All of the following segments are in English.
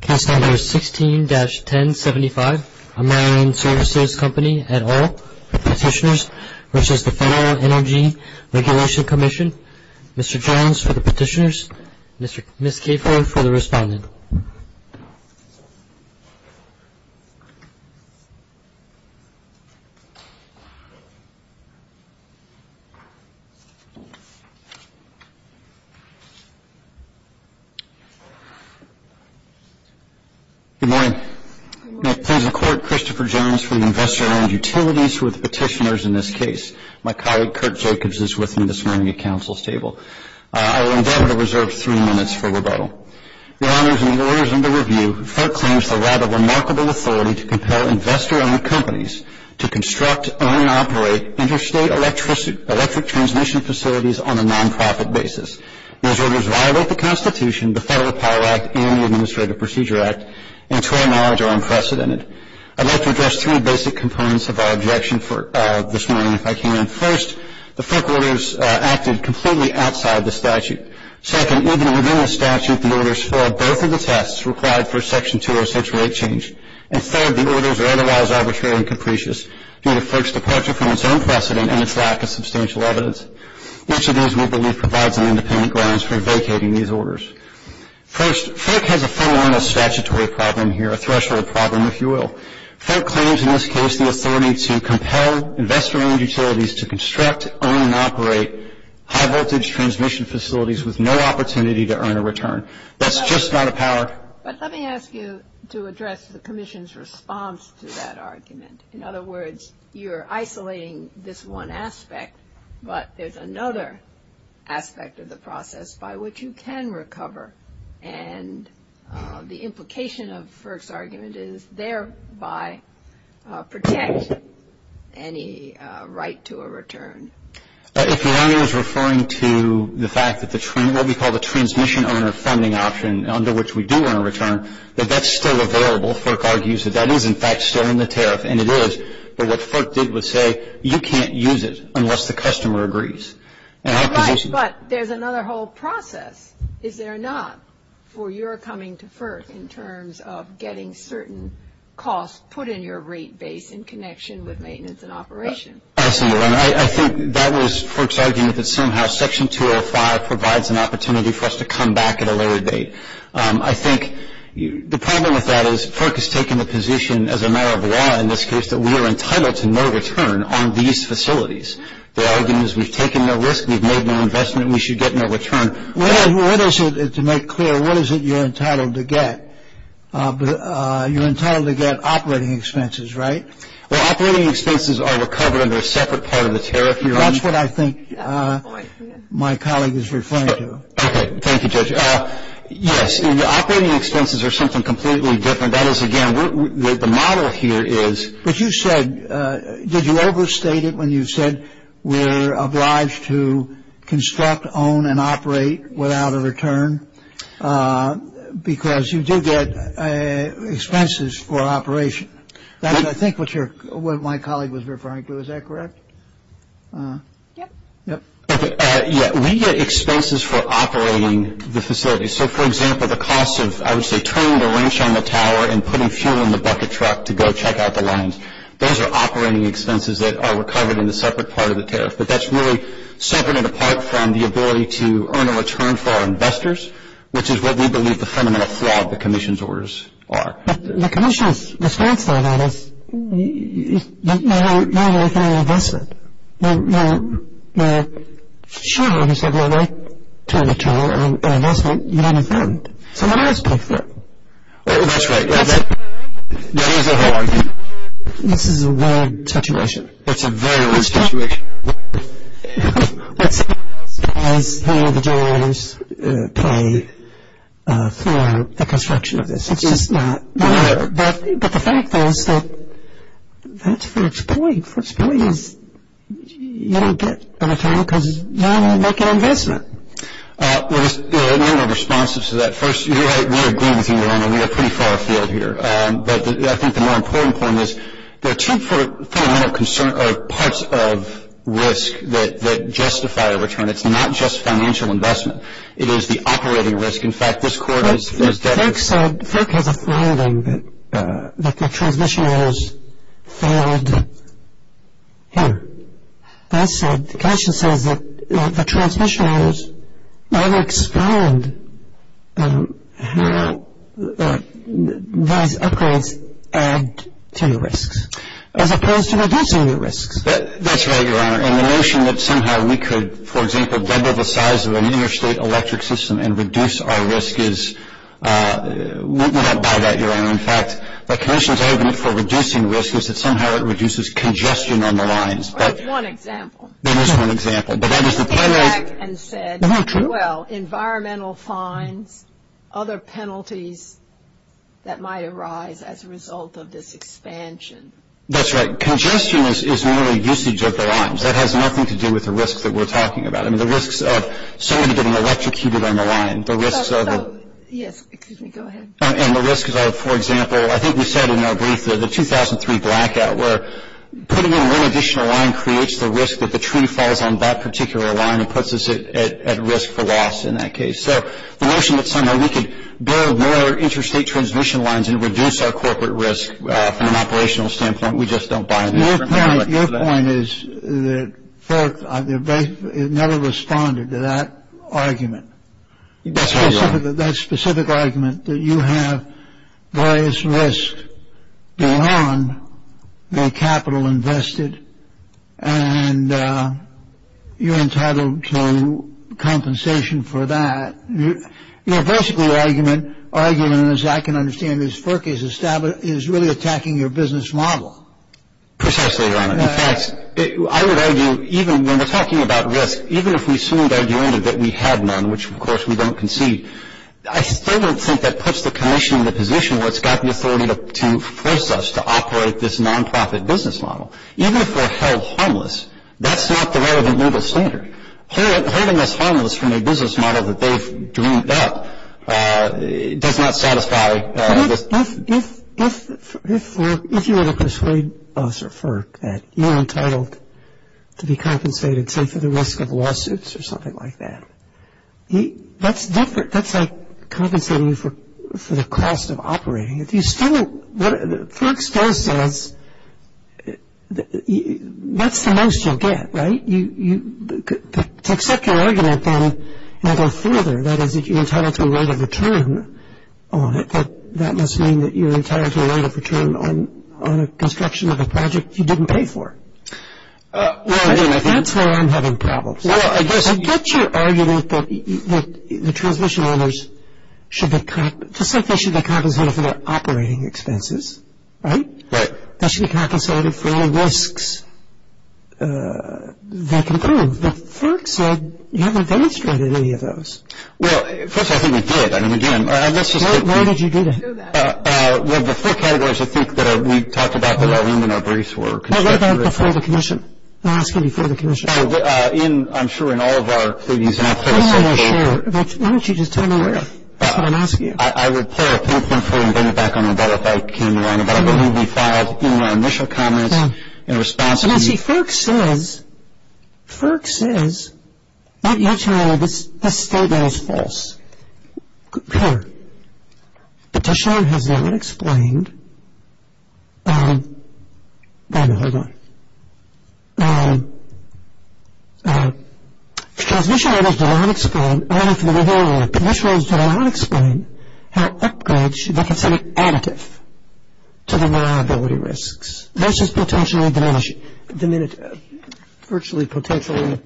Case number 16-1075. Ameren Services Company et al. Petitioners v. Federal Energy Regulatory Commission Mr. Jones for the petitioners, Ms. Capehorn for the respondent. Good morning. Good morning. May it please the Court, Christopher Jones for the Investor-Owned Utilities v. Petitioners in this case. My colleague, Kurt Jacobs, is with me this morning at Council's table. I will endeavor to reserve three minutes for rebuttal. Your Honors, in the orders under review, FERC claims the right of remarkable authority to compel investor-owned companies to construct, own, and operate interstate electric transmission facilities on a non-profit basis. Those orders violate the Constitution, the Federal Power Act, and the Administrative Procedure Act, and to our knowledge are unprecedented. I'd like to address three basic components of our objection this morning, if I can. First, the FERC orders acted completely outside the statute. Second, even within the statute, the orders failed both of the tests required for Section 206 rate change. And third, the orders are otherwise arbitrary and capricious, due to FERC's departure from its own precedent and its lack of substantial evidence. Each of these, we believe, provides an independent grounds for vacating these orders. First, FERC has a fundamental statutory problem here, a threshold problem, if you will. FERC claims in this case the authority to compel investor-owned utilities to construct, own, and operate high-voltage transmission facilities with no opportunity to earn a return. That's just out of power. But let me ask you to address the Commission's response to that argument. In other words, you're isolating this one aspect, but there's another aspect of the process by which you can recover. And the implication of FERC's argument is thereby protect any right to a return. If your honor is referring to the fact that what we call the transmission owner funding option, under which we do earn a return, that that's still available, FERC argues that that is, in fact, still in the tariff. And it is. But what FERC did was say, you can't use it unless the customer agrees. But there's another whole process, is there not, for your coming to FERC, in terms of getting certain costs put in your rate base in connection with maintenance and operation? I think that was FERC's argument that somehow Section 205 provides an opportunity for us to come back at a later date. I think the problem with that is FERC has taken the position, as a matter of law in this case, that we are entitled to no return on these facilities. Their argument is we've taken no risk, we've made no investment, we should get no return. What is it, to make clear, what is it you're entitled to get? You're entitled to get operating expenses, right? Well, operating expenses are recovered under a separate part of the tariff, Your Honor. That's what I think my colleague is referring to. Okay. Thank you, Judge. Yes. Operating expenses are something completely different. That is, again, the model here is. But you said, did you overstate it when you said we're obliged to construct, own, and operate without a return? Because you do get expenses for operation. That's, I think, what my colleague was referring to. Is that correct? Yep. Yep. Yeah, we get expenses for operating the facilities. So, for example, the cost of, I would say, turning the wrench on the tower and putting fuel in the bucket truck to go check out the lines, those are operating expenses that are recovered in a separate part of the tariff. But that's really separate and apart from the ability to earn a return for our investors, which is what we believe the fundamental flaw of the commission's orders are. But the commission's response to all that is, no, we're making an investment. Well, sure, obviously, we would like to own a tower and an investment, but in effect, someone else pays for it. That's right. That is the whole argument. This is a weird situation. It's a very weird situation. Someone else pays for the construction of this. It's just not fair. But the fact is that that's for its point. Its point is you don't get a tower because you're not going to make an investment. We're responsive to that. First, we agree with you on that. We're pretty far afield here. But I think the more important point is there are two fundamental parts of risk that justify a return. It's not just financial investment. It is the operating risk. In fact, this court has said- that the transmission orders failed here. The commission says that the transmission orders never explained how those upgrades add to your risks, as opposed to reducing your risks. That's right, Your Honor. And the notion that somehow we could, for example, double the size of a New York State electric system and reduce our risk is- That's right, Your Honor. In fact, the commission's argument for reducing risk is that somehow it reduces congestion on the lines. That's one example. That is one example. But that is the penalty- It came back and said- True. Well, environmental fines, other penalties that might arise as a result of this expansion. That's right. Congestion is merely usage of the lines. That has nothing to do with the risks that we're talking about. I mean, the risks of somebody getting electrocuted on the line, the risks of- Yes, excuse me. Go ahead. And the risks of, for example, I think we said in our brief, the 2003 blackout, where putting in one additional line creates the risk that the tree falls on that particular line and puts us at risk for loss in that case. So the notion that somehow we could build more interstate transmission lines and reduce our corporate risk from an operational standpoint, we just don't buy into that. Your point is that FORC never responded to that argument. That's right, Your Honor. The argument that you have various risks beyond the capital invested and you're entitled to compensation for that. You know, basically the argument, as I can understand it, is FORC is really attacking your business model. Precisely, Your Honor. In fact, I would argue, even when we're talking about risk, even if we soon had argued that we had none, which, of course, we don't concede, I still don't think that puts the commission in the position where it's got the authority to force us to operate this nonprofit business model. Even if we're held harmless, that's not the relevant legal standard. Holding us harmless from a business model that they've dreamed up does not satisfy this. If you were to persuade us or FORC that you're entitled to be compensated, say, for the risk of lawsuits or something like that, that's like compensating you for the cost of operating it. FORC still says that's the most you'll get, right? To accept your argument then and go further, that is, if you're entitled to a rate of return on it, that must mean that you're entitled to a rate of return on a construction of a project you didn't pay for. That's where I'm having problems. I get your argument that the transmission owners, just like they should be compensated for their operating expenses, right? Right. They should be compensated for all the risks they can prove, but FORC said you haven't demonstrated any of those. Well, first of all, I think we did. I mean, again, let's just get real. Why did you do that? Well, the four categories, I think, that we talked about that are in our briefs were construction. What about before the commission? They're asking before the commission. I'm sure in all of our briefs. I'm not sure. Why don't you just tell me? That's what I'm asking you. I would pay a payment for it and bring it back on the debt if I came to any, but I believe we filed in our initial comments in response to you. See, FORC says, not your child, this statement is false. Clear. Petitioner has not explained. Wait a minute, hold on. Transmission orders did not explain, I don't know if we were hearing that, but which ones did not explain how upgrades should be considered additive to the liability risks versus potentially diminishing, virtually potentially.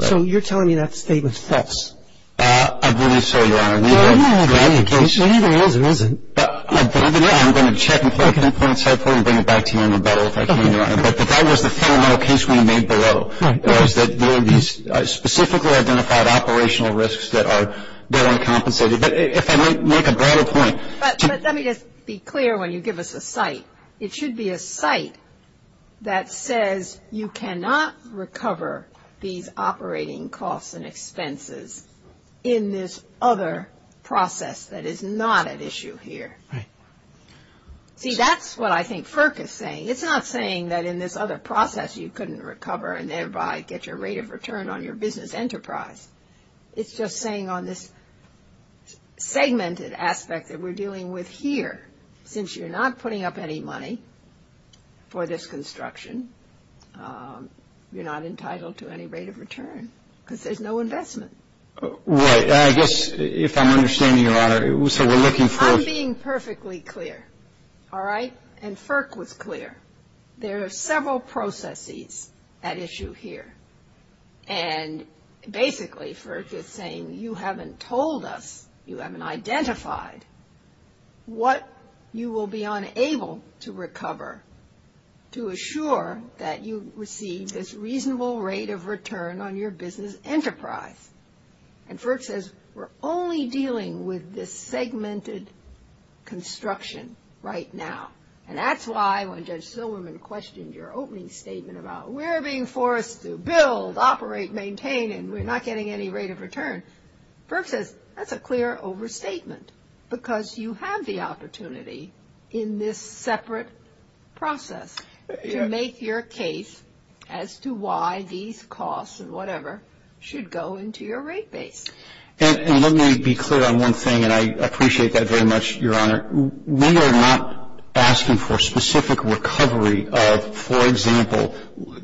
So you're telling me that statement's false. I believe so, Your Honor. It neither is or isn't. I'm going to check and find an important side point and bring it back to you in the battle if I can, Your Honor. But that was the fundamental case we made below, was that there are these specifically identified operational risks that are uncompensated. But if I might make a broader point. But let me just be clear when you give us a site. It should be a site that says you cannot recover these operating costs and expenses in this other process that is not at issue here. See, that's what I think FORC is saying. It's not saying that in this other process you couldn't recover and thereby get your rate of return on your business enterprise. It's just saying on this segmented aspect that we're dealing with here, since you're not putting up any money for this construction, you're not entitled to any rate of return because there's no investment. Right. I guess if I'm understanding, Your Honor, so we're looking for... I'm being perfectly clear. All right? And FORC was clear. There are several processes at issue here. And basically FORC is saying you haven't told us, you haven't identified, what you will be unable to recover to assure that you receive this reasonable rate of return on your business enterprise. And FORC says we're only dealing with this segmented construction right now. And that's why when Judge Silverman questioned your opening statement about we're being forced to build, operate, maintain, and we're not getting any rate of return, FORC says that's a clear overstatement because you have the opportunity in this separate process to make your case as to why these costs and whatever should go into your rate base. And let me be clear on one thing, and I appreciate that very much, Your Honor. We are not asking for specific recovery of, for example,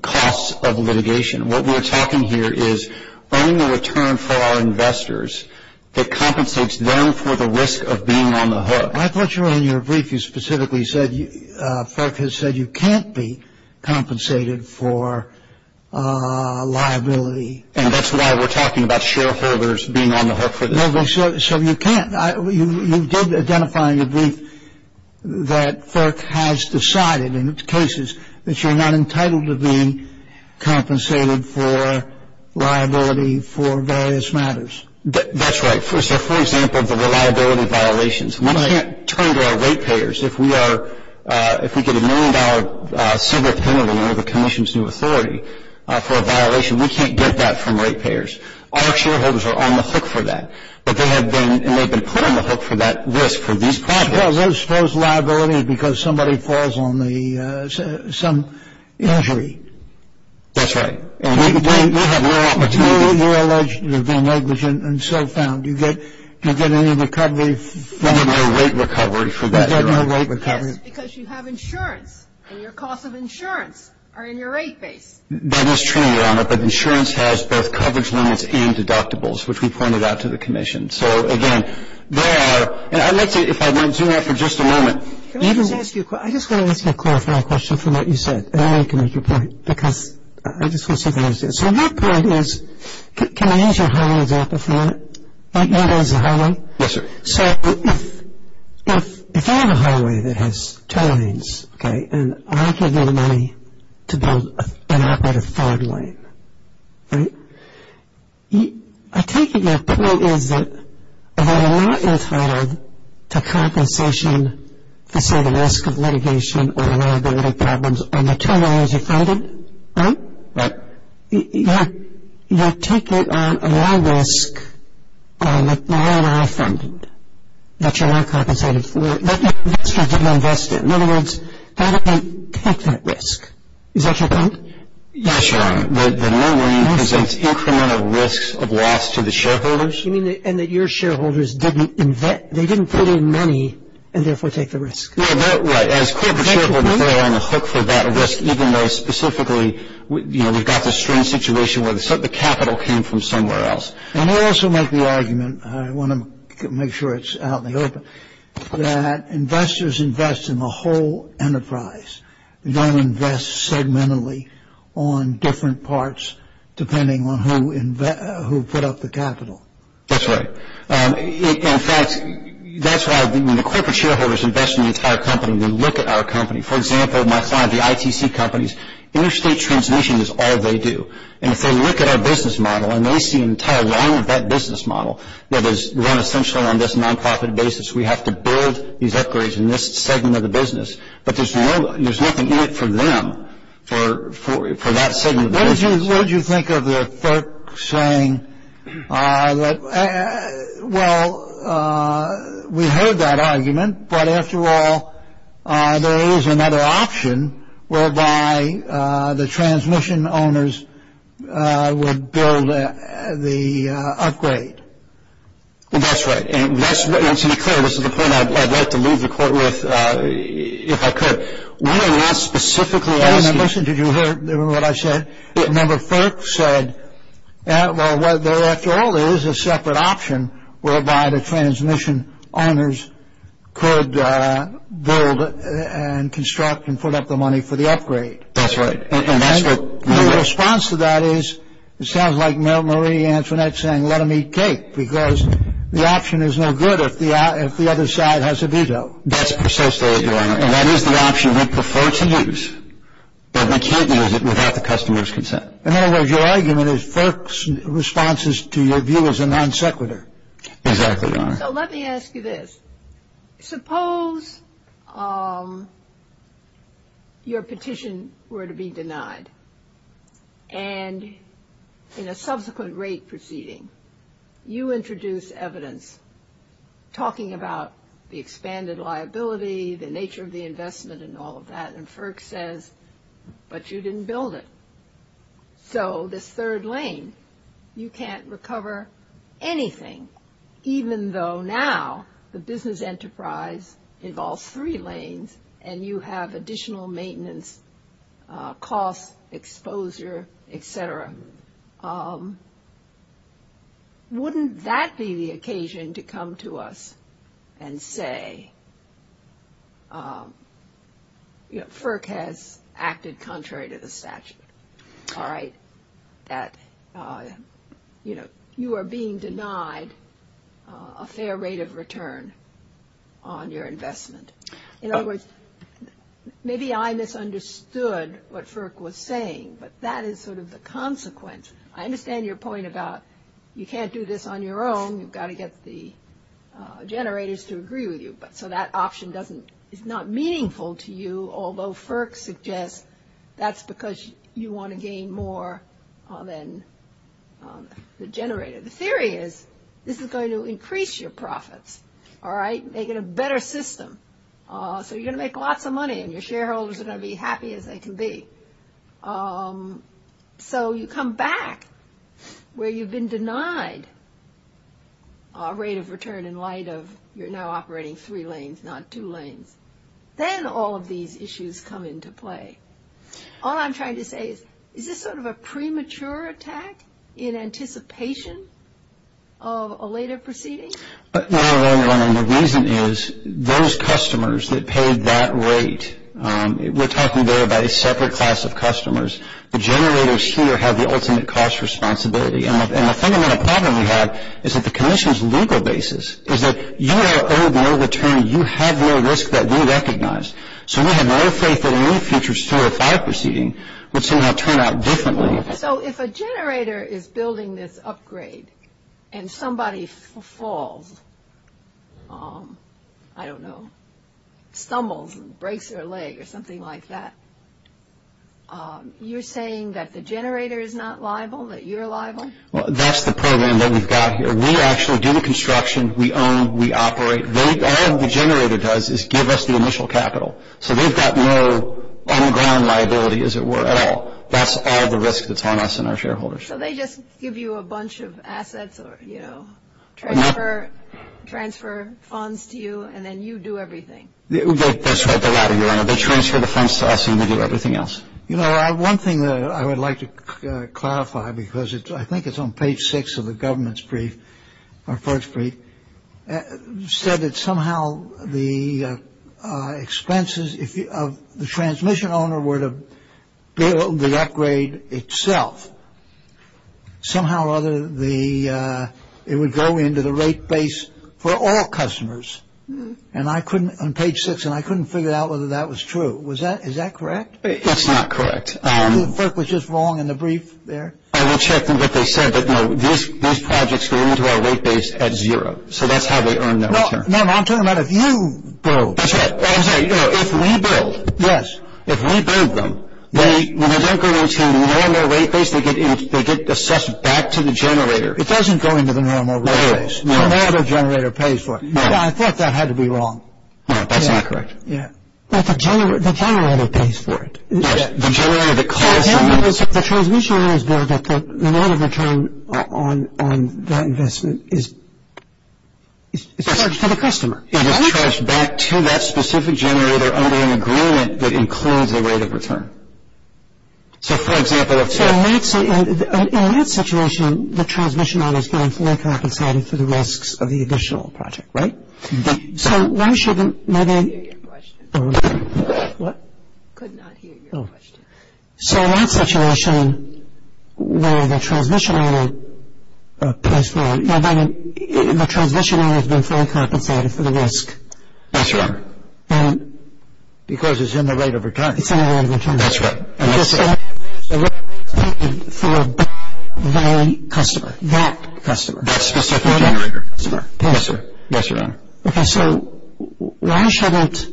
costs of litigation. What we're talking here is earning a return for our investors that compensates them for the risk of being on the hook. I thought you were in your brief. You specifically said FORC has said you can't be compensated for liability. And that's why we're talking about shareholders being on the hook for this. So you can't. You did identify in your brief that FORC has decided in its cases that you're not entitled to being compensated for liability for various matters. That's right. So, for example, the reliability violations. We can't turn to our rate payers. If we get a million-dollar civil penalty under the commission's new authority for a violation, we can't get that from rate payers. Our shareholders are on the hook for that. But they have been, and they've been put on the hook for that risk for these properties. Well, those folks' liability is because somebody falls on the, some injury. That's right. And they have no opportunity. They're alleged to have been negligent and so found. Do you get any recovery for that? We get no rate recovery for that, Your Honor. We get no rate recovery. Yes, because you have insurance, and your costs of insurance are in your rate base. That is true, Your Honor. But insurance has both coverage limits and deductibles, which we pointed out to the commission. So, again, there are, and I'd like to, if I might zoom out for just a moment. Can I just ask you a question? I just want to ask a clarifying question from what you said, and then I can make a point, because I just want to see if I understand. So my point is, can I use your highway example for a minute? Might you use the highway? Yes, sir. So if I have a highway that has two lanes, okay, and I can give you the money to build an operative fog lane, right? I take it your point is that if I'm not entitled to compensation for, say, the risk of litigation or reliability problems on the two lanes you're finding, right? Right. You have to take it on a low risk, like the line I funded, that you're not compensated for, that your investors didn't invest in. In other words, how do they take that risk? Is that your point? Yes, Your Honor. The low lane presents incremental risks of loss to the shareholders. You mean, and that your shareholders didn't invest, they didn't put in money and therefore take the risk. Right. As corporate shareholders, they're on the hook for that risk, even though specifically, you know, we've got this strange situation where the capital came from somewhere else. And I also make the argument, I want to make sure it's out in the open, that investors invest in the whole enterprise. They don't invest segmentally on different parts depending on who put up the capital. That's right. In fact, that's why when the corporate shareholders invest in the entire company, they look at our company. For example, my son, the ITC companies, interstate transmission is all they do. And if they look at our business model and they see an entire line of that business model that is run essentially on this non-profit basis, we have to build these upgrades in this segment of the business. But there's nothing in it for them, for that segment of the business. What did you think of the third saying? Well, we heard that argument. But after all, there is another option whereby the transmission owners would build the upgrade. That's right. And to be clear, this is the point I'd like to leave the court with if I could. We are not specifically asking. Listen, did you hear what I said? Number four said, well, after all, there is a separate option whereby the transmission owners could build and construct and put up the money for the upgrade. That's right. And that's what. My response to that is it sounds like Marie Antoinette saying let them eat cake because the option is no good if the other side has a veto. That's precisely it, Your Honor. And that is the option we prefer to use, but we can't use it without the customer's consent. In other words, your argument is FERC's response to your view is a non sequitur. Exactly, Your Honor. So let me ask you this. Suppose your petition were to be denied and in a subsequent rate proceeding, you introduce evidence talking about the expanded liability, the nature of the investment and all of that, and FERC says, but you didn't build it. So this third lane, you can't recover anything, even though now the business enterprise involves three lanes and you have additional maintenance costs, exposure, et cetera. Wouldn't that be the occasion to come to us and say, you know, FERC has acted contrary to the statute, all right, that, you know, you are being denied a fair rate of return on your investment. In other words, maybe I misunderstood what FERC was saying, but that is sort of the consequence. I understand your point about you can't do this on your own. You've got to get the generators to agree with you. So that option is not meaningful to you, although FERC suggests that's because you want to gain more than the generator. The theory is this is going to increase your profits, all right, make it a better system. So you're going to make lots of money and your shareholders are going to be happy as they can be. So you come back where you've been denied a rate of return in light of you're now operating three lanes, not two lanes. Then all of these issues come into play. All I'm trying to say is, is this sort of a premature attack in anticipation of a later proceeding? The reason is those customers that paid that rate, we're talking there about a separate class of customers. The generators here have the ultimate cost responsibility. And the fundamental problem we have is that the commission's legal basis is that you are owed no return. You have no risk that we recognize. So we have no faith that any future sewer or fire proceeding would somehow turn out differently. So if a generator is building this upgrade and somebody falls, I don't know, stumbles and breaks their leg or something like that, you're saying that the generator is not liable, that you're liable? Well, that's the program that we've got here. We actually do the construction, we own, we operate. All the generator does is give us the initial capital. So they've got no on-ground liability, as it were, at all. That's all the risk that's on us and our shareholders. So they just give you a bunch of assets or, you know, transfer funds to you and then you do everything? That's right. They transfer the funds to us and we do everything else. You know, one thing I would like to clarify, because I think it's on page six of the government's brief, our first brief, said that somehow the expenses of the transmission owner were to build the upgrade itself. Somehow or other, it would go into the rate base for all customers. And I couldn't, on page six, and I couldn't figure out whether that was true. Was that, is that correct? That's not correct. Maybe the FERC was just wrong in the brief there. I will check what they said, but no, these projects go into our rate base at zero. So that's how they earn their return. No, I'm talking about if you build. That's right. I'm sorry, you know, if we build. Yes. If we build them, when they don't go into the normal rate base, they get assessed back to the generator. It doesn't go into the normal rate base. No. No, the generator pays for it. I thought that had to be wrong. No, that's not correct. Yeah. But the generator pays for it. The transmission order is there, but the amount of return on that investment is charged to the customer. It is charged back to that specific generator under an agreement that includes a rate of return. So, for example, let's say. In that situation, the transmission order is going to be compensated for the risks of the additional project, right? So, why shouldn't. I didn't hear your question. What? I could not hear your question. Oh. So, in that situation, where the transmission order pays for it, the transmission order has been fully compensated for the risk. Yes, Your Honor. Because it's in the rate of return. It's in the rate of return. That's right. And that's the rate of return for that customer. That customer. That specific generator. Yes, sir. Yes, Your Honor. Okay, so why shouldn't,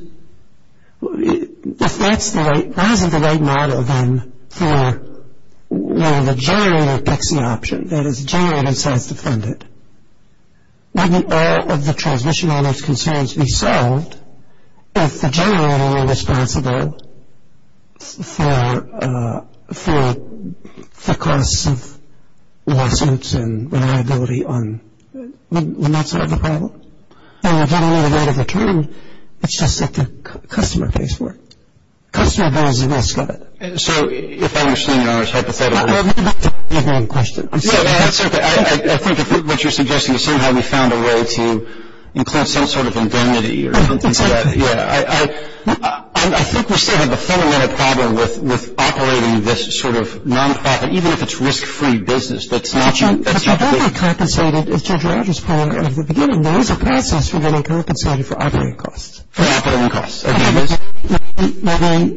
if that's the right, why isn't the right model then for where the generator picks the option? That is, the generator decides to fund it. Wouldn't all of the transmission order's concerns be solved If the generator were responsible for the cost of license and reliability on, wouldn't that solve the problem? I mean, if you don't know the rate of return, it's just that the customer pays for it. Customer pays the risk of it. So, if I understand Your Honor's hypothetical. I didn't hear your question. No, that's okay. I think what you're suggesting is somehow we found a way to include some sort of indemnity. Yeah. I think we still have a fundamental problem with operating this sort of nonprofit, even if it's risk-free business. But you don't get compensated, as Judge Rogers pointed out at the beginning, there is a process for getting compensated for operating costs. For operating costs, okay.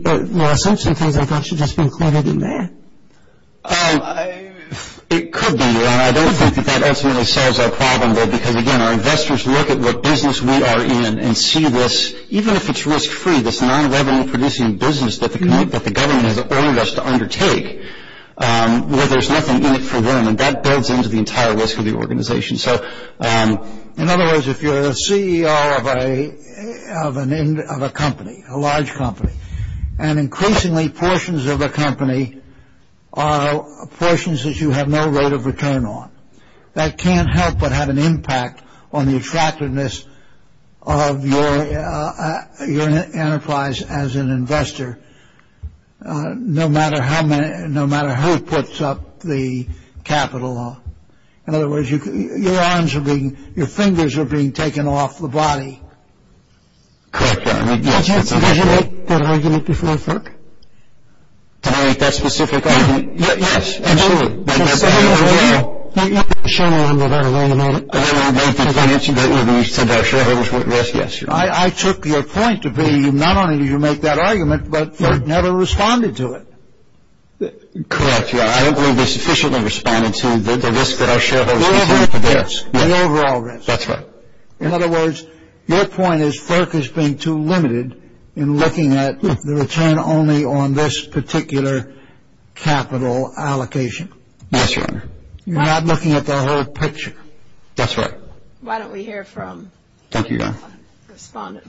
There are some things I thought should just be included in there. It could be, Your Honor. I don't think that that ultimately solves our problem, though, because, again, our investors look at what business we are in and see this, even if it's risk-free, this non-revenue-producing business that the government has ordered us to undertake, where there's nothing in it for them. And that builds into the entire risk of the organization. So, in other words, if you're the CEO of a company, a large company, and increasingly portions of the company are portions that you have no rate of return on, that can't help but have an impact on the attractiveness of your enterprise as an investor, no matter how many, no matter who puts up the capital. In other words, your arms are being, your fingers are being taken off the body. Correct, Your Honor. Did you make that argument before FERC? Did I make that specific argument? Yes. Absolutely. You have to show them that I learned about it. I learned about it when you said our shareholders were at risk. Yes, Your Honor. I took your point to be not only did you make that argument, but FERC never responded to it. Correct, Your Honor. I don't believe they sufficiently responded to the risk that our shareholders were taking. The overall risk. The overall risk. That's right. In other words, your point is FERC has been too limited in looking at the return only on this particular capital allocation. Yes, Your Honor. You're not looking at the whole picture. That's right. Why don't we hear from the other respondent?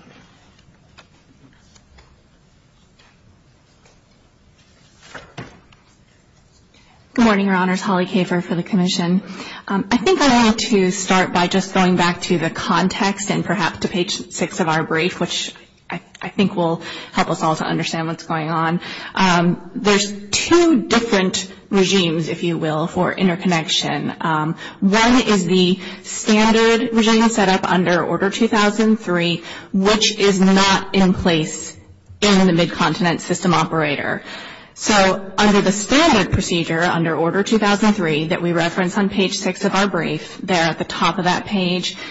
Good morning, Your Honors. Holly Kafer for the Commission. I think I want to start by just going back to the context and perhaps to page 6 of our brief, which I think will help us all to understand what's going on. There's two different regimes, if you will, for interconnection. One is the standard regime set up under Order 2003, which is not in place in the Mid-Continent System Operator. So under the standard procedure, under Order 2003, that we reference on page 6 of our brief, there at the top of that page, for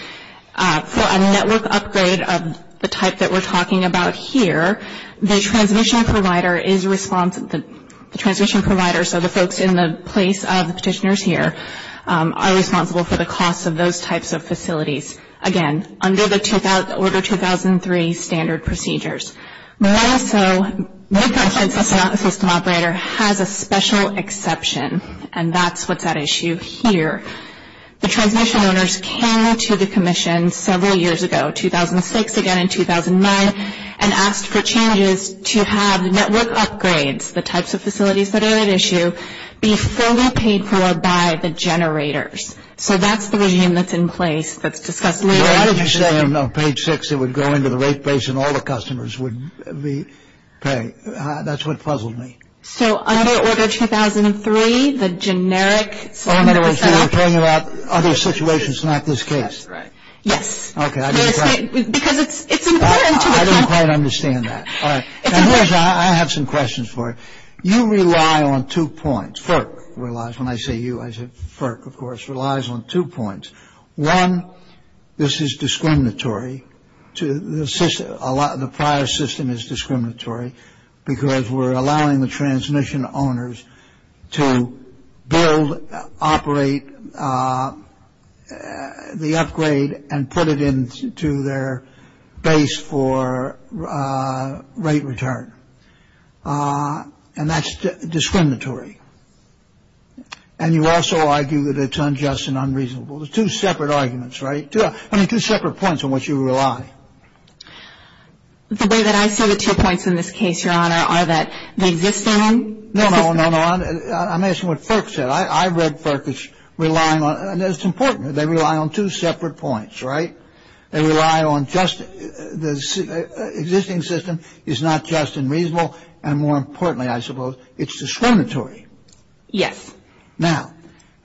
a network upgrade of the type that we're talking about here, the transmission provider is responsible, the transmission provider, so the folks in the place of the petitioners here, are responsible for the cost of those types of facilities. Again, under the Order 2003 standard procedures. More so, Mid-Continent System Operator has a special exception, and that's what's at issue here. The transmission owners came to the Commission several years ago, 2006 again and 2009, and asked for changes to have network upgrades, the types of facilities that are at issue, be fully paid for by the generators. So that's the regime that's in place that's discussed later. Why did you say on page 6 it would go into the rate base and all the customers would be paid? That's what puzzled me. So under Order 2003, the generic standard procedure. Oh, in other words, you were talking about other situations, not this case. That's right. Yes. Okay. Because it's important. I don't quite understand that. All right. I have some questions for you. You rely on two points. FERC relies, when I say you, I say FERC, of course, relies on two points. One, this is discriminatory to the prior system is discriminatory because we're allowing the transmission owners to build, operate the upgrade and put it into their base for rate return. And that's discriminatory. And you also argue that it's unjust and unreasonable. There's two separate arguments, right? I mean, two separate points on which you rely. The way that I see the two points in this case, Your Honor, are that the existing system. No, no, no, no. I'm asking what FERC said. I read FERC as relying on, and it's important, they rely on two separate points, right? They rely on just the existing system is not just and reasonable. And more importantly, I suppose, it's discriminatory. Yes. Now,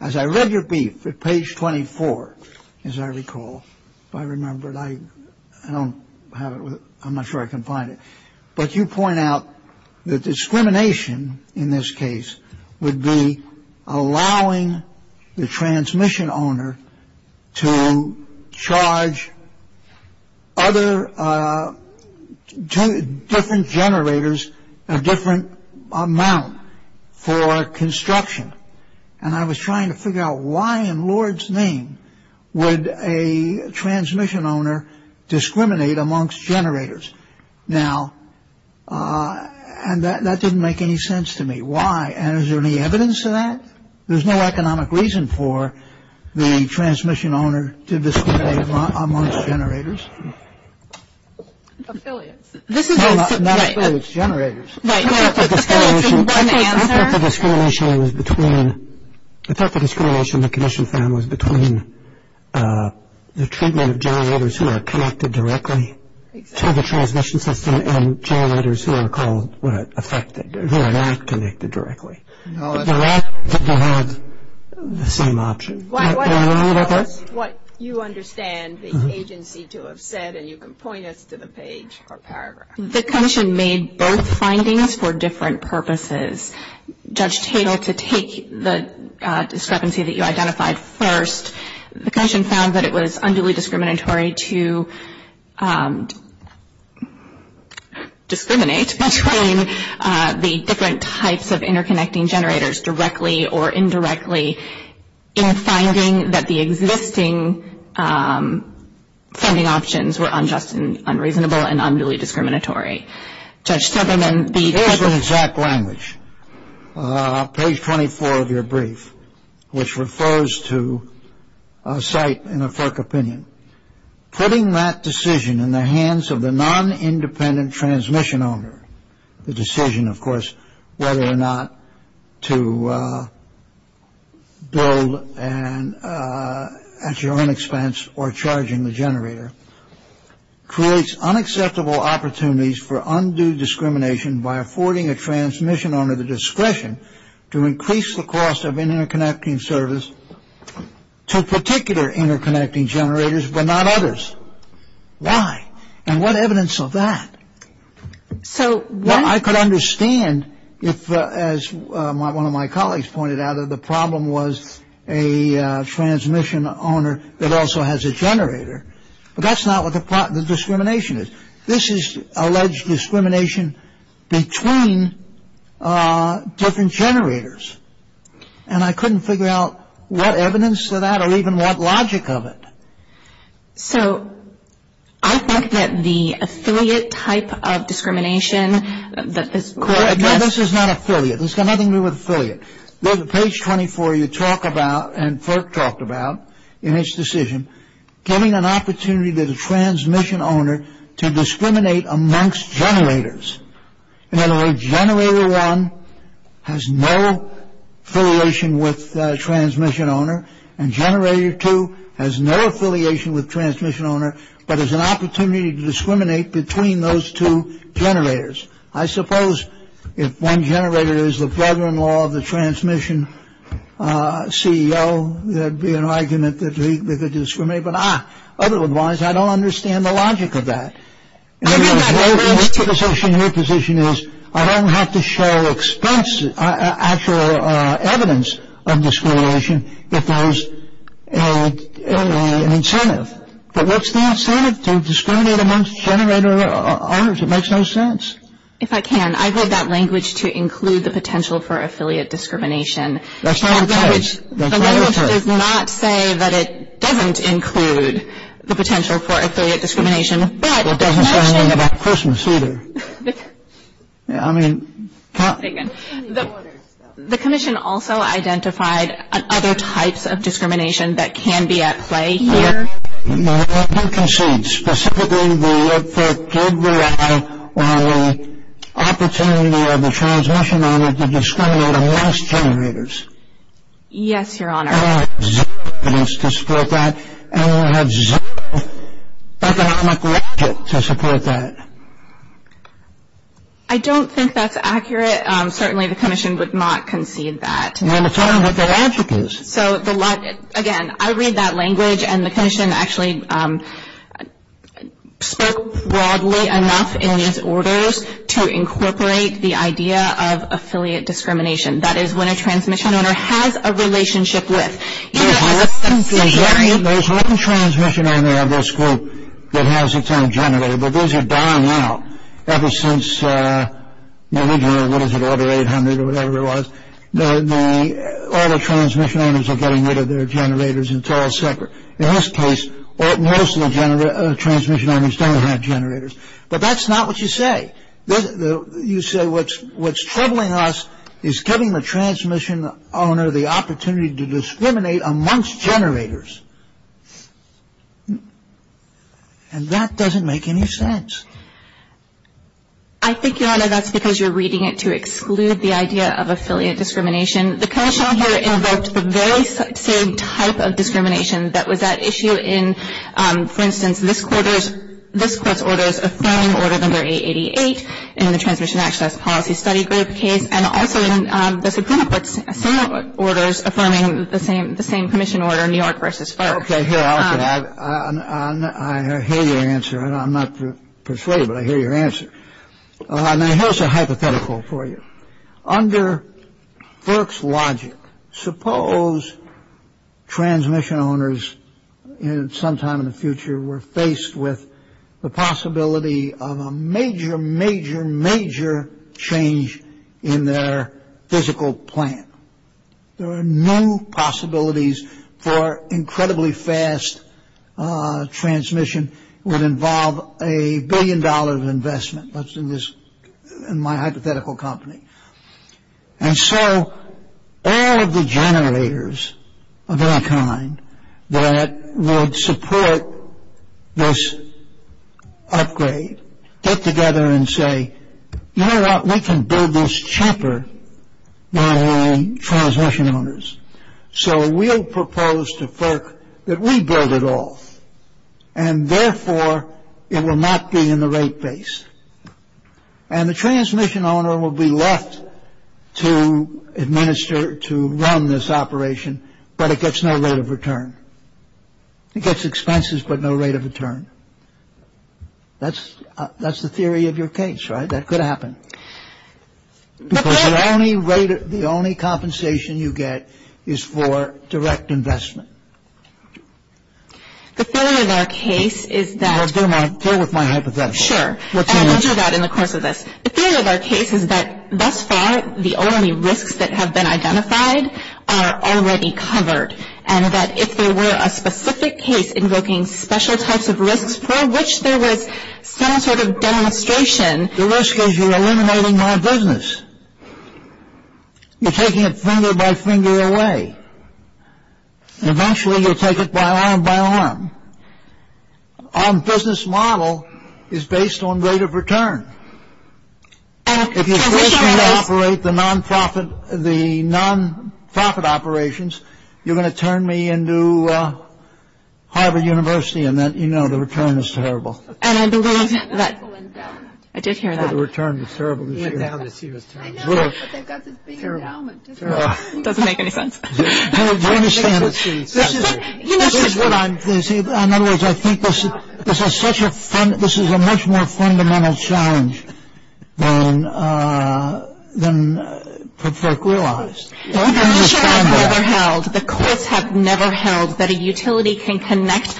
as I read your brief at page 24, as I recall, if I remember, I don't have it. I'm not sure I can find it. But you point out that discrimination in this case would be allowing the transmission owner to charge other different generators a different amount for construction. And I was trying to figure out why in Lord's name would a transmission owner discriminate amongst generators. Now, and that didn't make any sense to me. Why? And is there any evidence of that? There's no economic reason for the transmission owner to discriminate amongst generators. Affiliates. No, not affiliates. Generators. Affiliates is one answer. I thought the discrimination was between, I thought the discrimination the Commission found was between the treatment of generators who are connected directly to the transmission system and generators who are called, what, affected, who are not connected directly. No, that's not it. The rest of the people had the same option. Can I go on a little bit? Why don't you tell us what you understand the agency to have said, and you can point us to the page or paragraph. The Commission made both findings for different purposes. Judge Tatel, to take the discrepancy that you identified first, the Commission found that it was unduly discriminatory to discriminate between the different types of interconnecting generators directly or indirectly in finding that the existing funding options were unjust and unreasonable and unduly discriminatory. Judge Sutherland, the There's an exact language, page 24 of your brief, which refers to a site in a FERC opinion. Putting that decision in the hands of the non-independent transmission owner, the decision, of course, whether or not to build at your own expense or charging the generator, creates unacceptable opportunities for undue discrimination by affording a transmission owner discretion to increase the cost of interconnecting service to particular interconnecting generators, but not others. Why? And what evidence of that? I could understand if, as one of my colleagues pointed out, if the problem was a transmission owner that also has a generator. But that's not what the discrimination is. This is alleged discrimination between different generators. And I couldn't figure out what evidence of that or even what logic of it. So I think that the affiliate type of discrimination that this court addressed No, this is not affiliate. This has nothing to do with affiliate. There's a page 24 you talk about and FERC talked about in its decision, giving an opportunity to the transmission owner to discriminate amongst generators. In other words, generator one has no affiliation with transmission owner, and generator two has no affiliation with transmission owner, but is an opportunity to discriminate between those two generators. I suppose if one generator is the brother-in-law of the transmission CEO, there'd be an argument that they could discriminate. But otherwise, I don't understand the logic of that. And your position is I don't have to show actual evidence of discrimination if there's an incentive. But what's the incentive to discriminate amongst generator owners? It makes no sense. If I can, I heard that language to include the potential for affiliate discrimination. That's not what it says. The language does not say that it doesn't include the potential for affiliate discrimination. But the question It doesn't say anything about Christmas either. I mean The commission also identified other types of discrimination that can be at play here. Specifically, the opportunity of the transmission owner to discriminate amongst generators. Yes, Your Honor. I have zero evidence to support that, and I have zero economic logic to support that. I don't think that's accurate. Certainly, the commission would not concede that. Well, it's not what the logic is. Again, I read that language, and the commission actually spoke broadly enough in its orders to incorporate the idea of affiliate discrimination. That is, when a transmission owner has a relationship with Your Honor, there's one transmission owner of this group that has a term generator, but those are dying out ever since Now, we don't know what is it, order 800 or whatever it was. All the transmission owners are getting rid of their generators, and it's all separate. In this case, most of the transmission owners don't have generators. But that's not what you say. You say what's troubling us is giving the transmission owner the opportunity to discriminate amongst generators. And that doesn't make any sense. I think, Your Honor, that's because you're reading it to exclude the idea of affiliate discrimination. The commission here invoked the very same type of discrimination that was at issue in, for instance, this Court's orders affirming Order No. 888 in the Transmission Access Policy Study Group case, and also in the Supreme Court's similar orders affirming the same commission order, New York v. FERC. I hear your answer, and I'm not persuaded, but I hear your answer. And I have a hypothetical for you. Under FERC's logic, suppose transmission owners sometime in the future were faced with the possibility of a major, major, major change in their physical plan. There are new possibilities for incredibly fast transmission. It would involve a billion-dollar investment, let's do this in my hypothetical company. And so all of the generators of any kind that would support this upgrade get together and say, you know what, we can build this chopper by transmission owners. So we'll propose to FERC that we build it all, and therefore, it will not be in the rate base. And the transmission owner will be left to administer, to run this operation, but it gets no rate of return. It gets expenses, but no rate of return. That's the theory of your case, right? That could happen. Because the only rate, the only compensation you get is for direct investment. The theory of our case is that. Well, deal with my hypothetical. Sure. And I'll do that in the course of this. The theory of our case is that thus far, the only risks that have been identified are already covered, and that if there were a specific case invoking special types of risks for which there was some sort of demonstration. The risk is you're eliminating my business. You're taking it finger by finger away. Eventually, you'll take it by arm by arm. Our business model is based on rate of return. If you're going to operate the non-profit, the non-profit operations, you're going to turn me into Harvard University and then, you know, the return is terrible. And I believe that. I did hear that. The return is terrible. I know, but they've got this big endowment. Doesn't make any sense. I understand. In other words, I think this is a much more fundamental challenge than folk realize. The courts have never held that a utility can collect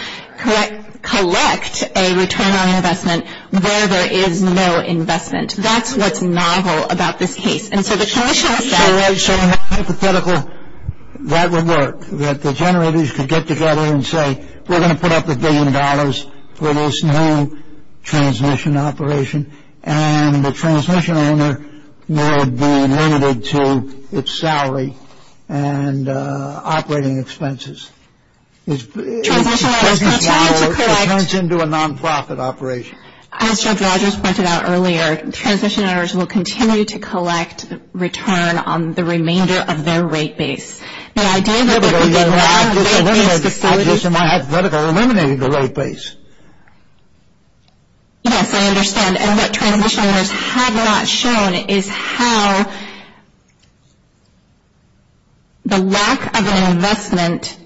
a return on investment where there is no investment. That's what's novel about this case. So a hypothetical, that would work. That the generators could get together and say, we're going to put up a billion dollars for this new transmission operation, and the transmission owner will be limited to its salary and operating expenses. Transmission owners will continue to collect. It turns into a non-profit operation. As Judge Rogers pointed out earlier, transmission owners will continue to collect return on the remainder of their rate base. The idea that we get a lot of rate base facilities. I'm just in my hypothetical eliminating the rate base. Yes, I understand. And what transmission owners have not shown is how the lack of an investment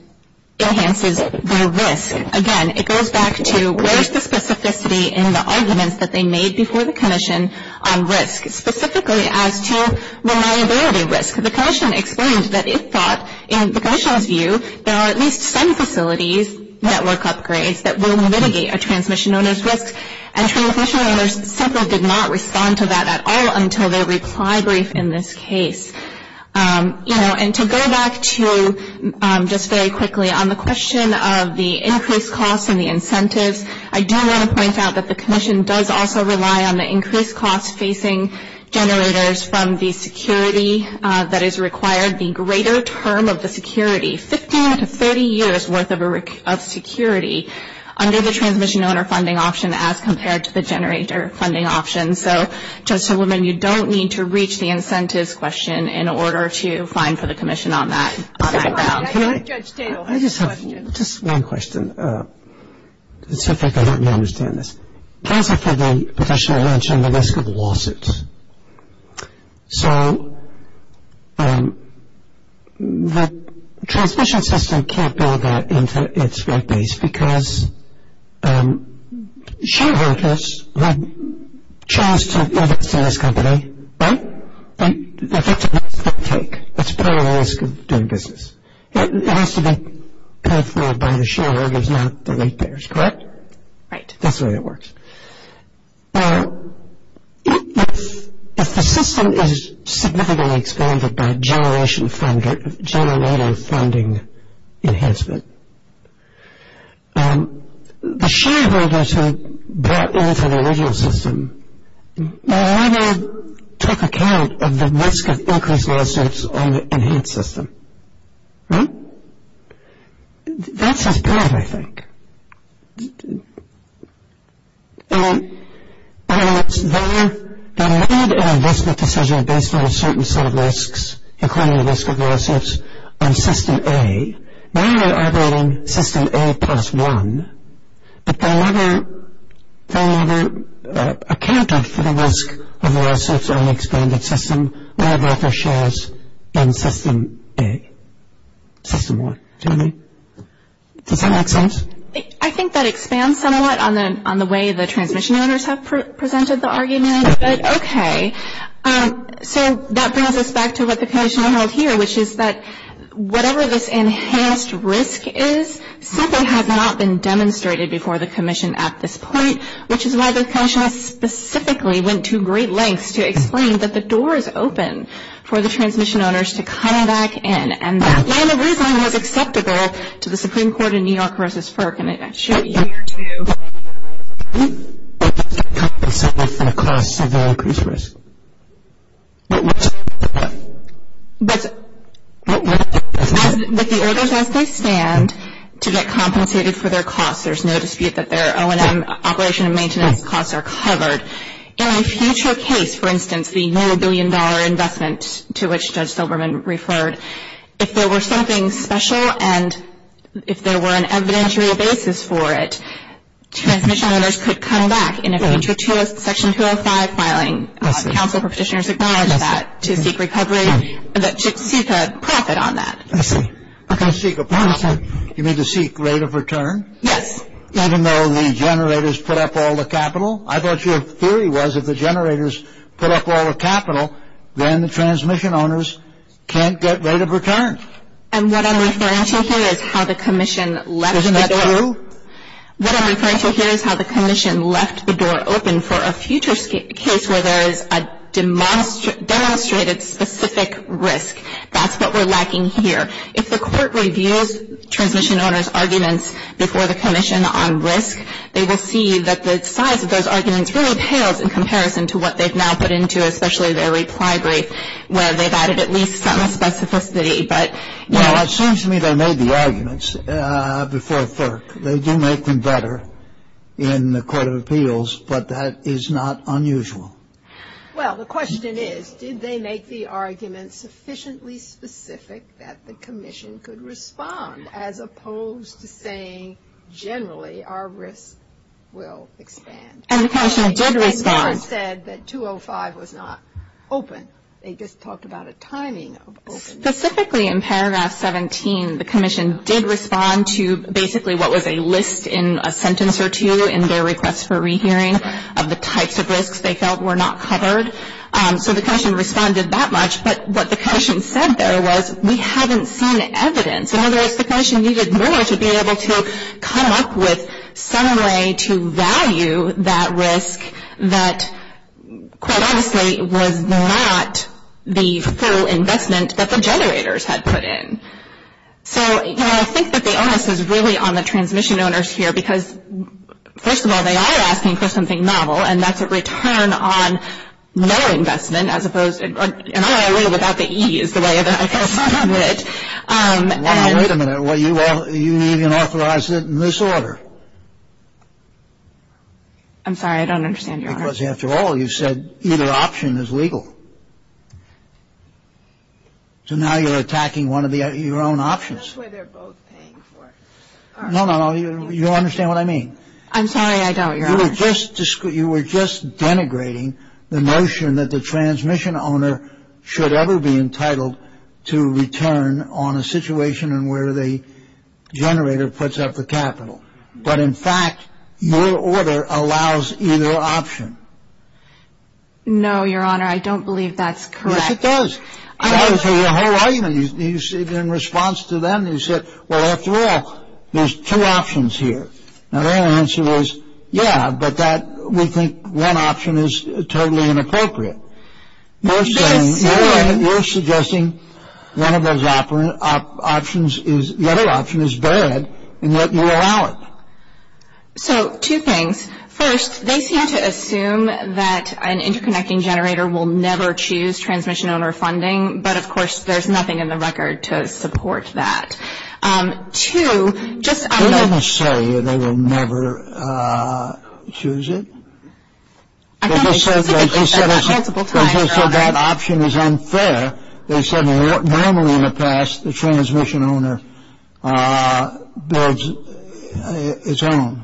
enhances their risk. Again, it goes back to where is the specificity in the arguments that they made before the commission on risk, specifically as to reliability risk. The commission explained that it thought, in the commission's view, there are at least some facilities, network upgrades, that will mitigate a transmission owner's risk. And transmission owners simply did not respond to that at all until their reply brief in this case. And to go back to, just very quickly, on the question of the increased costs and the incentives, I do want to point out that the commission does also rely on the increased costs facing generators from the security that is required, the greater term of the security, 15 to 30 years worth of security, under the transmission owner funding option as compared to the generator funding option. So, Judge Silverman, you don't need to reach the incentives question in order to find for the commission on that. I just have just one question. It seems like I don't understand this. Those are for the potential range on the risk of lawsuits. So, the transmission system can't build that into its base, because shareholders would choose to invest in this company, right? And the victim has to take. That's part of the risk of doing business. It has to be paid for by the shareholders, not the rate payers, correct? Right. That's the way it works. Now, if the system is significantly expanded by generation funding, generating funding enhancement, the shareholders who bought into the original system, they're going to take account of the risk of increased lawsuits on the enhanced system, right? That's just part of it, I think. They're allowed an investment decision based on a certain set of risks, including the risk of lawsuits on system A. Now they're operating system A plus one, but they're never accounted for the risk of lawsuits on the expanded system, rather for shares in system A. System what, do you know what I mean? Does that make sense? I think that expands somewhat on the way the transmission owners have presented the argument, but okay. So, that brings us back to what the Commissioner held here, which is that whatever this enhanced risk is simply has not been demonstrated before the Commission at this point, which is why the Commissioner specifically went to great lengths to explain that the door is open for the transmission owners to come back in, and that plan originally was acceptable to the Supreme Court in New York versus FERC, and it should be here too. But it's not compensated for the costs of the increased risk. But what's the point? But with the orders as they stand, to get compensated for their costs, there's no dispute that their O&M operation and maintenance costs are covered. In a future case, for instance, the $1 million investment to which Judge Silberman referred, if there were something special and if there were an evidentiary basis for it, transmission owners could come back in a future section 205 filing. Counsel for Petitioners acknowledged that to seek recovery, to seek a profit on that. I see. To seek a profit. You mean to seek rate of return? Yes. Even though the generators put up all the capital? I thought your theory was if the generators put up all the capital, then the transmission owners can't get rate of return. And what I'm referring to here is how the Commission left the door open. Isn't that true? What I'm referring to here is how the Commission left the door open for a future case where there is a demonstrated specific risk. That's what we're lacking here. If the Court reviews transmission owners' arguments before the Commission on risk, they will see that the size of those arguments really pales in comparison to what they've now put into especially their reply brief where they've added at least some specificity. But, you know. Well, it seems to me they made the arguments before FERC. They do make them better in the Court of Appeals, but that is not unusual. Well, the question is, did they make the arguments sufficiently specific that the Commission could respond as opposed to saying generally our risk will expand? And the Commission did respond. They never said that 205 was not open. They just talked about a timing of opening. Specifically in paragraph 17, the Commission did respond to basically what was a list in a sentence or two in their request for rehearing of the types of risks they felt were not covered. So the Commission responded that much, but what the Commission said there was we haven't seen evidence. In other words, the Commission needed more to be able to come up with some way to value that risk that quite obviously was not the full investment that the generators had put in. So, you know, I think that the onus is really on the transmission owners here, because first of all, they are asking for something novel, and that's a return on no investment as opposed to an IRA without the E is the way that I feel about it. And you even authorized it in this order. I'm sorry. I don't understand, Your Honor. Because after all, you said either option is legal. So now you're attacking one of your own options. That's what they're both paying for. No, no, no. You don't understand what I mean. I'm sorry. I don't, Your Honor. You were just denigrating the notion that the transmission owner should ever be entitled to return on a situation in where the generator puts up the capital. But in fact, your order allows either option. No, Your Honor. I don't believe that's correct. Yes, it does. I'm not going to tell you the whole argument. In response to them, you said, well, after all, there's two options here. Now, their answer was, yeah, but we think one option is totally inappropriate. You're suggesting one of those options is, the other option is bad, and yet you allow it. So, two things. First, they seem to assume that an interconnecting generator will never choose transmission owner funding. But, of course, there's nothing in the record to support that. Two, just on the ---- They didn't say they would never choose it. I don't think they said that multiple times, Your Honor. They just said that option is unfair. They said normally in the past, the transmission owner builds its own.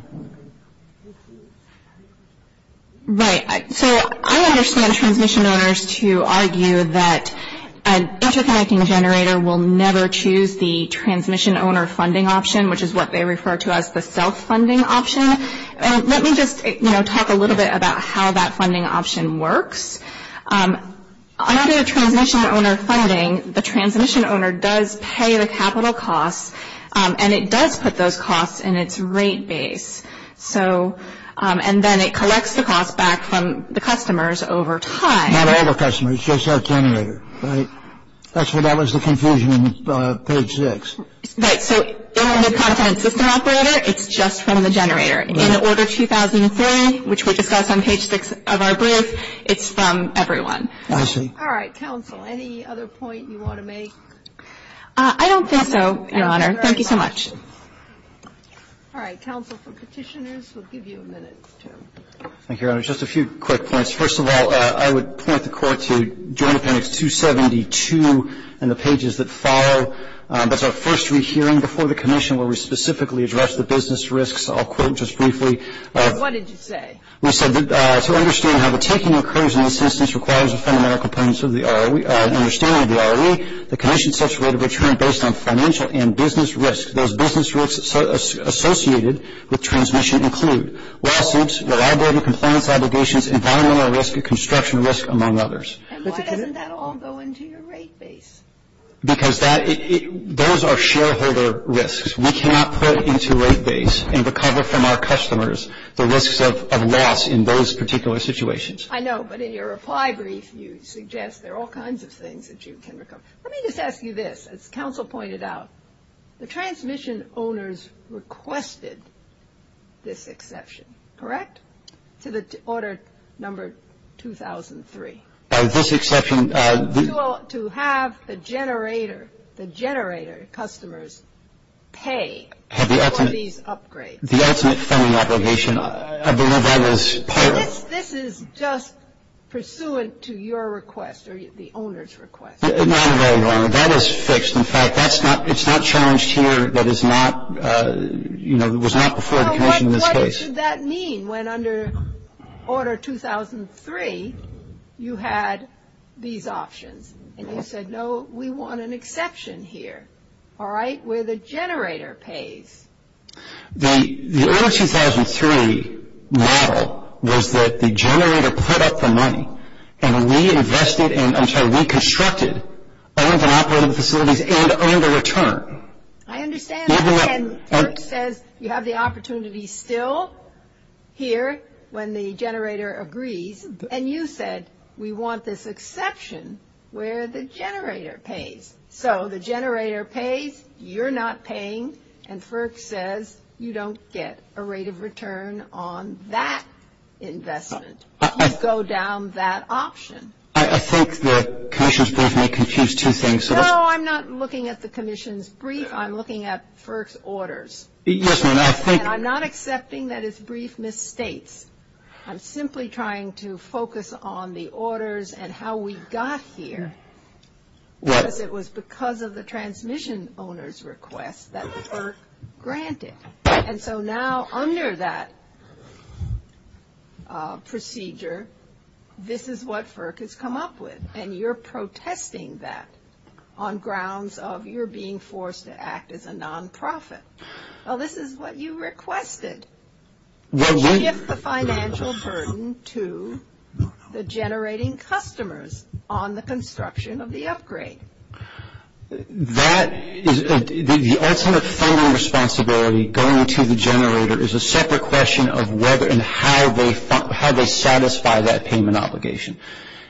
Right. So I understand transmission owners to argue that an interconnecting generator will never choose the transmission owner funding option, which is what they refer to as the self-funding option. Let me just talk a little bit about how that funding option works. Under transmission owner funding, the transmission owner does pay the capital costs, and it does put those costs in its rate base. So, and then it collects the costs back from the customers over time. Not all the customers, just our generator, right? That was the confusion on page six. Right. So, in the content system operator, it's just from the generator. In Order 2003, which we discussed on page six of our brief, it's from everyone. I see. All right. Counsel, any other point you want to make? I don't think so, Your Honor. Thank you so much. All right. Counsel, for Petitioners, we'll give you a minute. Thank you, Your Honor. Just a few quick points. First of all, I would point the Court to Joint Appendix 272 and the pages that follow. That's our first re-hearing before the Commission where we specifically address the business risks. I'll quote just briefly. What did you say? We said, to understand how the taking occurs in this instance requires a fundamental understanding of the ROE, the Commission sets a rate of return based on financial and business risk. Those business risks associated with transmission include lawsuits, reliability, compliance obligations, environmental risk, construction risk, among others. And why doesn't that all go into your rate base? Because those are shareholder risks. We cannot put into rate base and recover from our customers the risks of loss in those particular situations. I know. But in your reply brief, you suggest there are all kinds of things that you can recover. Let me just ask you this. As Counsel pointed out, the transmission owners requested this exception, correct? To the order number 2003. This exception. To have the generator, the generator customers pay for these upgrades. The ultimate funding obligation. I believe that is part of it. This is just pursuant to your request or the owner's request. No, I'm very wrong. That is fixed. In fact, that's not, it's not challenged here. That is not, you know, it was not before the Commission in this case. What should that mean when under order 2003 you had these options? And you said, no, we want an exception here, all right, where the generator pays. The order 2003 model was that the generator put up the money and reinvested, and I'm sorry, reconstructed owned and operated facilities and earned a return. I understand. And FERC says you have the opportunity still here when the generator agrees, and you said we want this exception where the generator pays. So the generator pays, you're not paying, and FERC says you don't get a rate of return on that investment. You go down that option. I think the Commission's brief may confuse two things. No, I'm not looking at the Commission's brief. I'm looking at FERC's orders. Yes, ma'am. And I'm not accepting that it's brief misstates. I'm simply trying to focus on the orders and how we got here, because it was because of the transmission owner's request that FERC granted. And so now under that procedure, this is what FERC has come up with, and you're protesting that on grounds of you're being forced to act as a nonprofit. Well, this is what you requested, to shift the financial burden to the generating customers on the construction of the upgrade. The ultimate funding responsibility going to the generator is a separate question of whether and how they satisfy that payment obligation.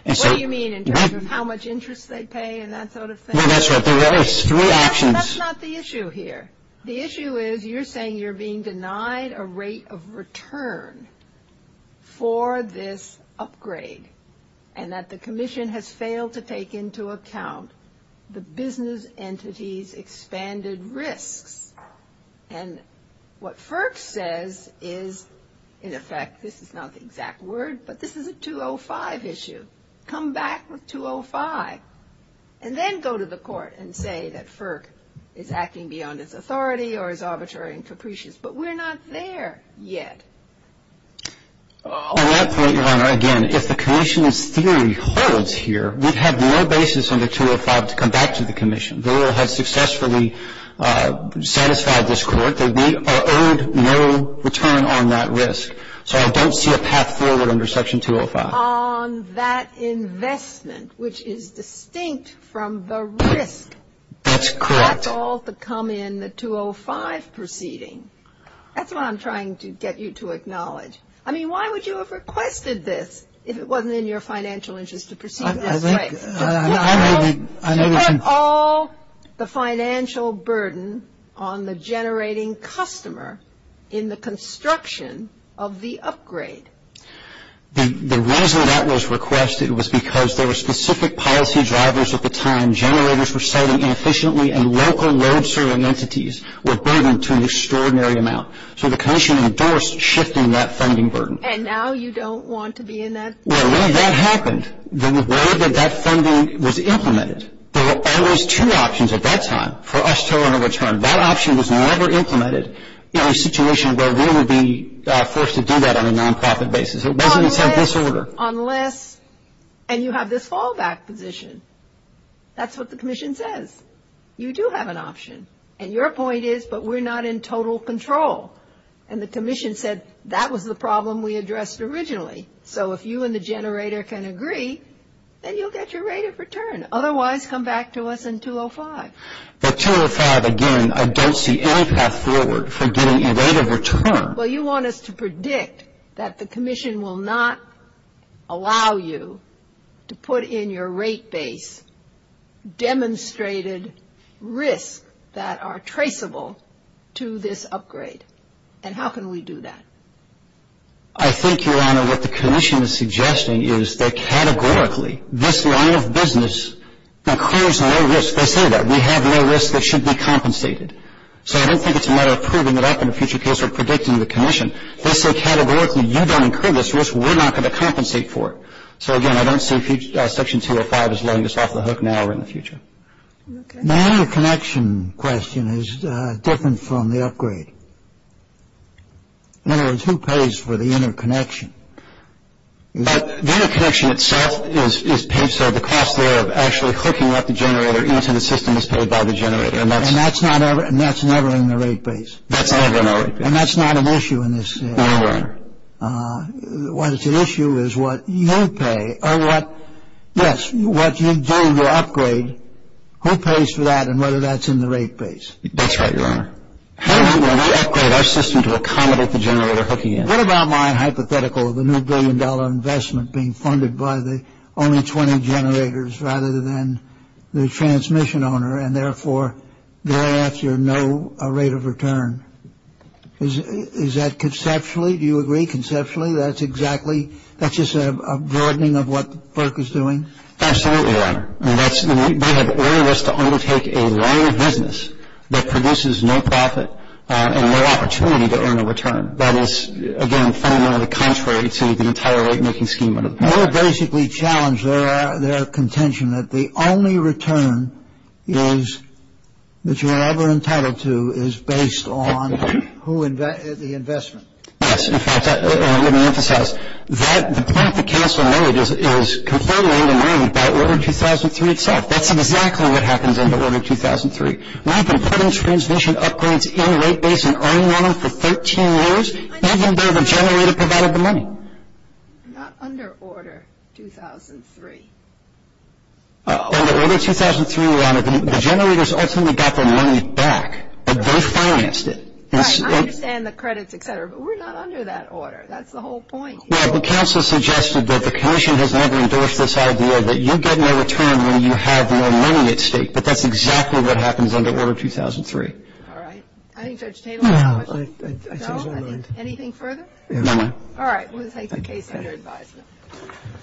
What do you mean in terms of how much interest they pay and that sort of thing? That's right. There are three options. That's not the issue here. The issue is you're saying you're being denied a rate of return for this upgrade and that the Commission has failed to take into account the business entity's expanded risks. And what FERC says is, in effect, this is not the exact word, but this is a 205 issue. Come back with 205 and then go to the Court and say that FERC is acting beyond its authority or is arbitrary and capricious, but we're not there yet. At that point, Your Honor, again, if the Commission's theory holds here, we'd have no basis under 205 to come back to the Commission. They will have successfully satisfied this Court. They may have earned no return on that risk. So I don't see a path forward under Section 205. On that investment, which is distinct from the risk. That's correct. That's all to come in the 205 proceeding. That's what I'm trying to get you to acknowledge. I mean, why would you have requested this if it wasn't in your financial interest to proceed this way? Well, super all the financial burden on the generating customer in the construction of the upgrade. The reason that was requested was because there were specific policy drivers at the time. Generators were siting inefficiently and local load serving entities were burdened to an extraordinary amount. So the Commission endorsed shifting that funding burden. And now you don't want to be in that position anymore? Well, when that happened, the reward of that funding was implemented. There were always two options at that time for us to earn a return. That option was never implemented in a situation where we would be forced to do that on a non-profit basis. It wasn't in some disorder. Unless, and you have this fallback position. That's what the Commission says. You do have an option. And your point is, but we're not in total control. And the Commission said that was the problem we addressed originally. So if you and the generator can agree, then you'll get your rate of return. Otherwise, come back to us in 205. But 205, again, I don't see any path forward for getting a rate of return. Well, you want us to predict that the Commission will not allow you to put in your rate base demonstrated risks that are traceable to this upgrade. And how can we do that? I think, Your Honor, what the Commission is suggesting is that categorically, this line of business incurs no risk. They say that. We have no risk that should be compensated. So I don't think it's a matter of proving it up in a future case or predicting the Commission. They say categorically, you don't incur this risk. We're not going to compensate for it. So, again, I don't see Section 205 as letting us off the hook now or in the future. Okay. My other connection question is different from the upgrade. In other words, who pays for the interconnection? The interconnection itself is paid. So the cost there of actually hooking up the generator into the system is paid by the generator. And that's never in the rate base? That's never in the rate base. And that's not an issue in this? No, Your Honor. What's at issue is what you pay or what, yes, what you do to upgrade, who pays for that and whether that's in the rate base? That's right, Your Honor. How do we upgrade our system to accommodate the generator hooking in? What about my hypothetical of the new billion-dollar investment being funded by the only 20 generators rather than the transmission owner and, therefore, thereafter no rate of return? Is that conceptually? Do you agree conceptually that's exactly, that's just a broadening of what FERC is doing? Absolutely, Your Honor. They have earned us to undertake a line of business that produces no profit and no opportunity to earn a return. That is, again, fundamentally contrary to the entire rate-making scheme under the patent. You have basically challenged their contention that the only return that you're ever entitled to is based on the investment. Yes, in fact, let me emphasize, the point that counsel made is completely undermined by Order 2003 itself. That's exactly what happens under Order 2003. We've been putting transmission upgrades in the rate base and earning on them for 13 years. Not even though the generator provided the money. Not under Order 2003. Under Order 2003, Your Honor, the generators ultimately got their money back, but they financed it. Right, I understand the credits, et cetera, but we're not under that order. That's the whole point. Yeah, but counsel suggested that the commission has never endorsed this idea that you get no return when you have your money at stake, but that's exactly what happens under Order 2003. All right. I think Judge Tatel has commented. No, I think it's underlined. No? Anything further? No, ma'am. All right, we'll take the case under advisement.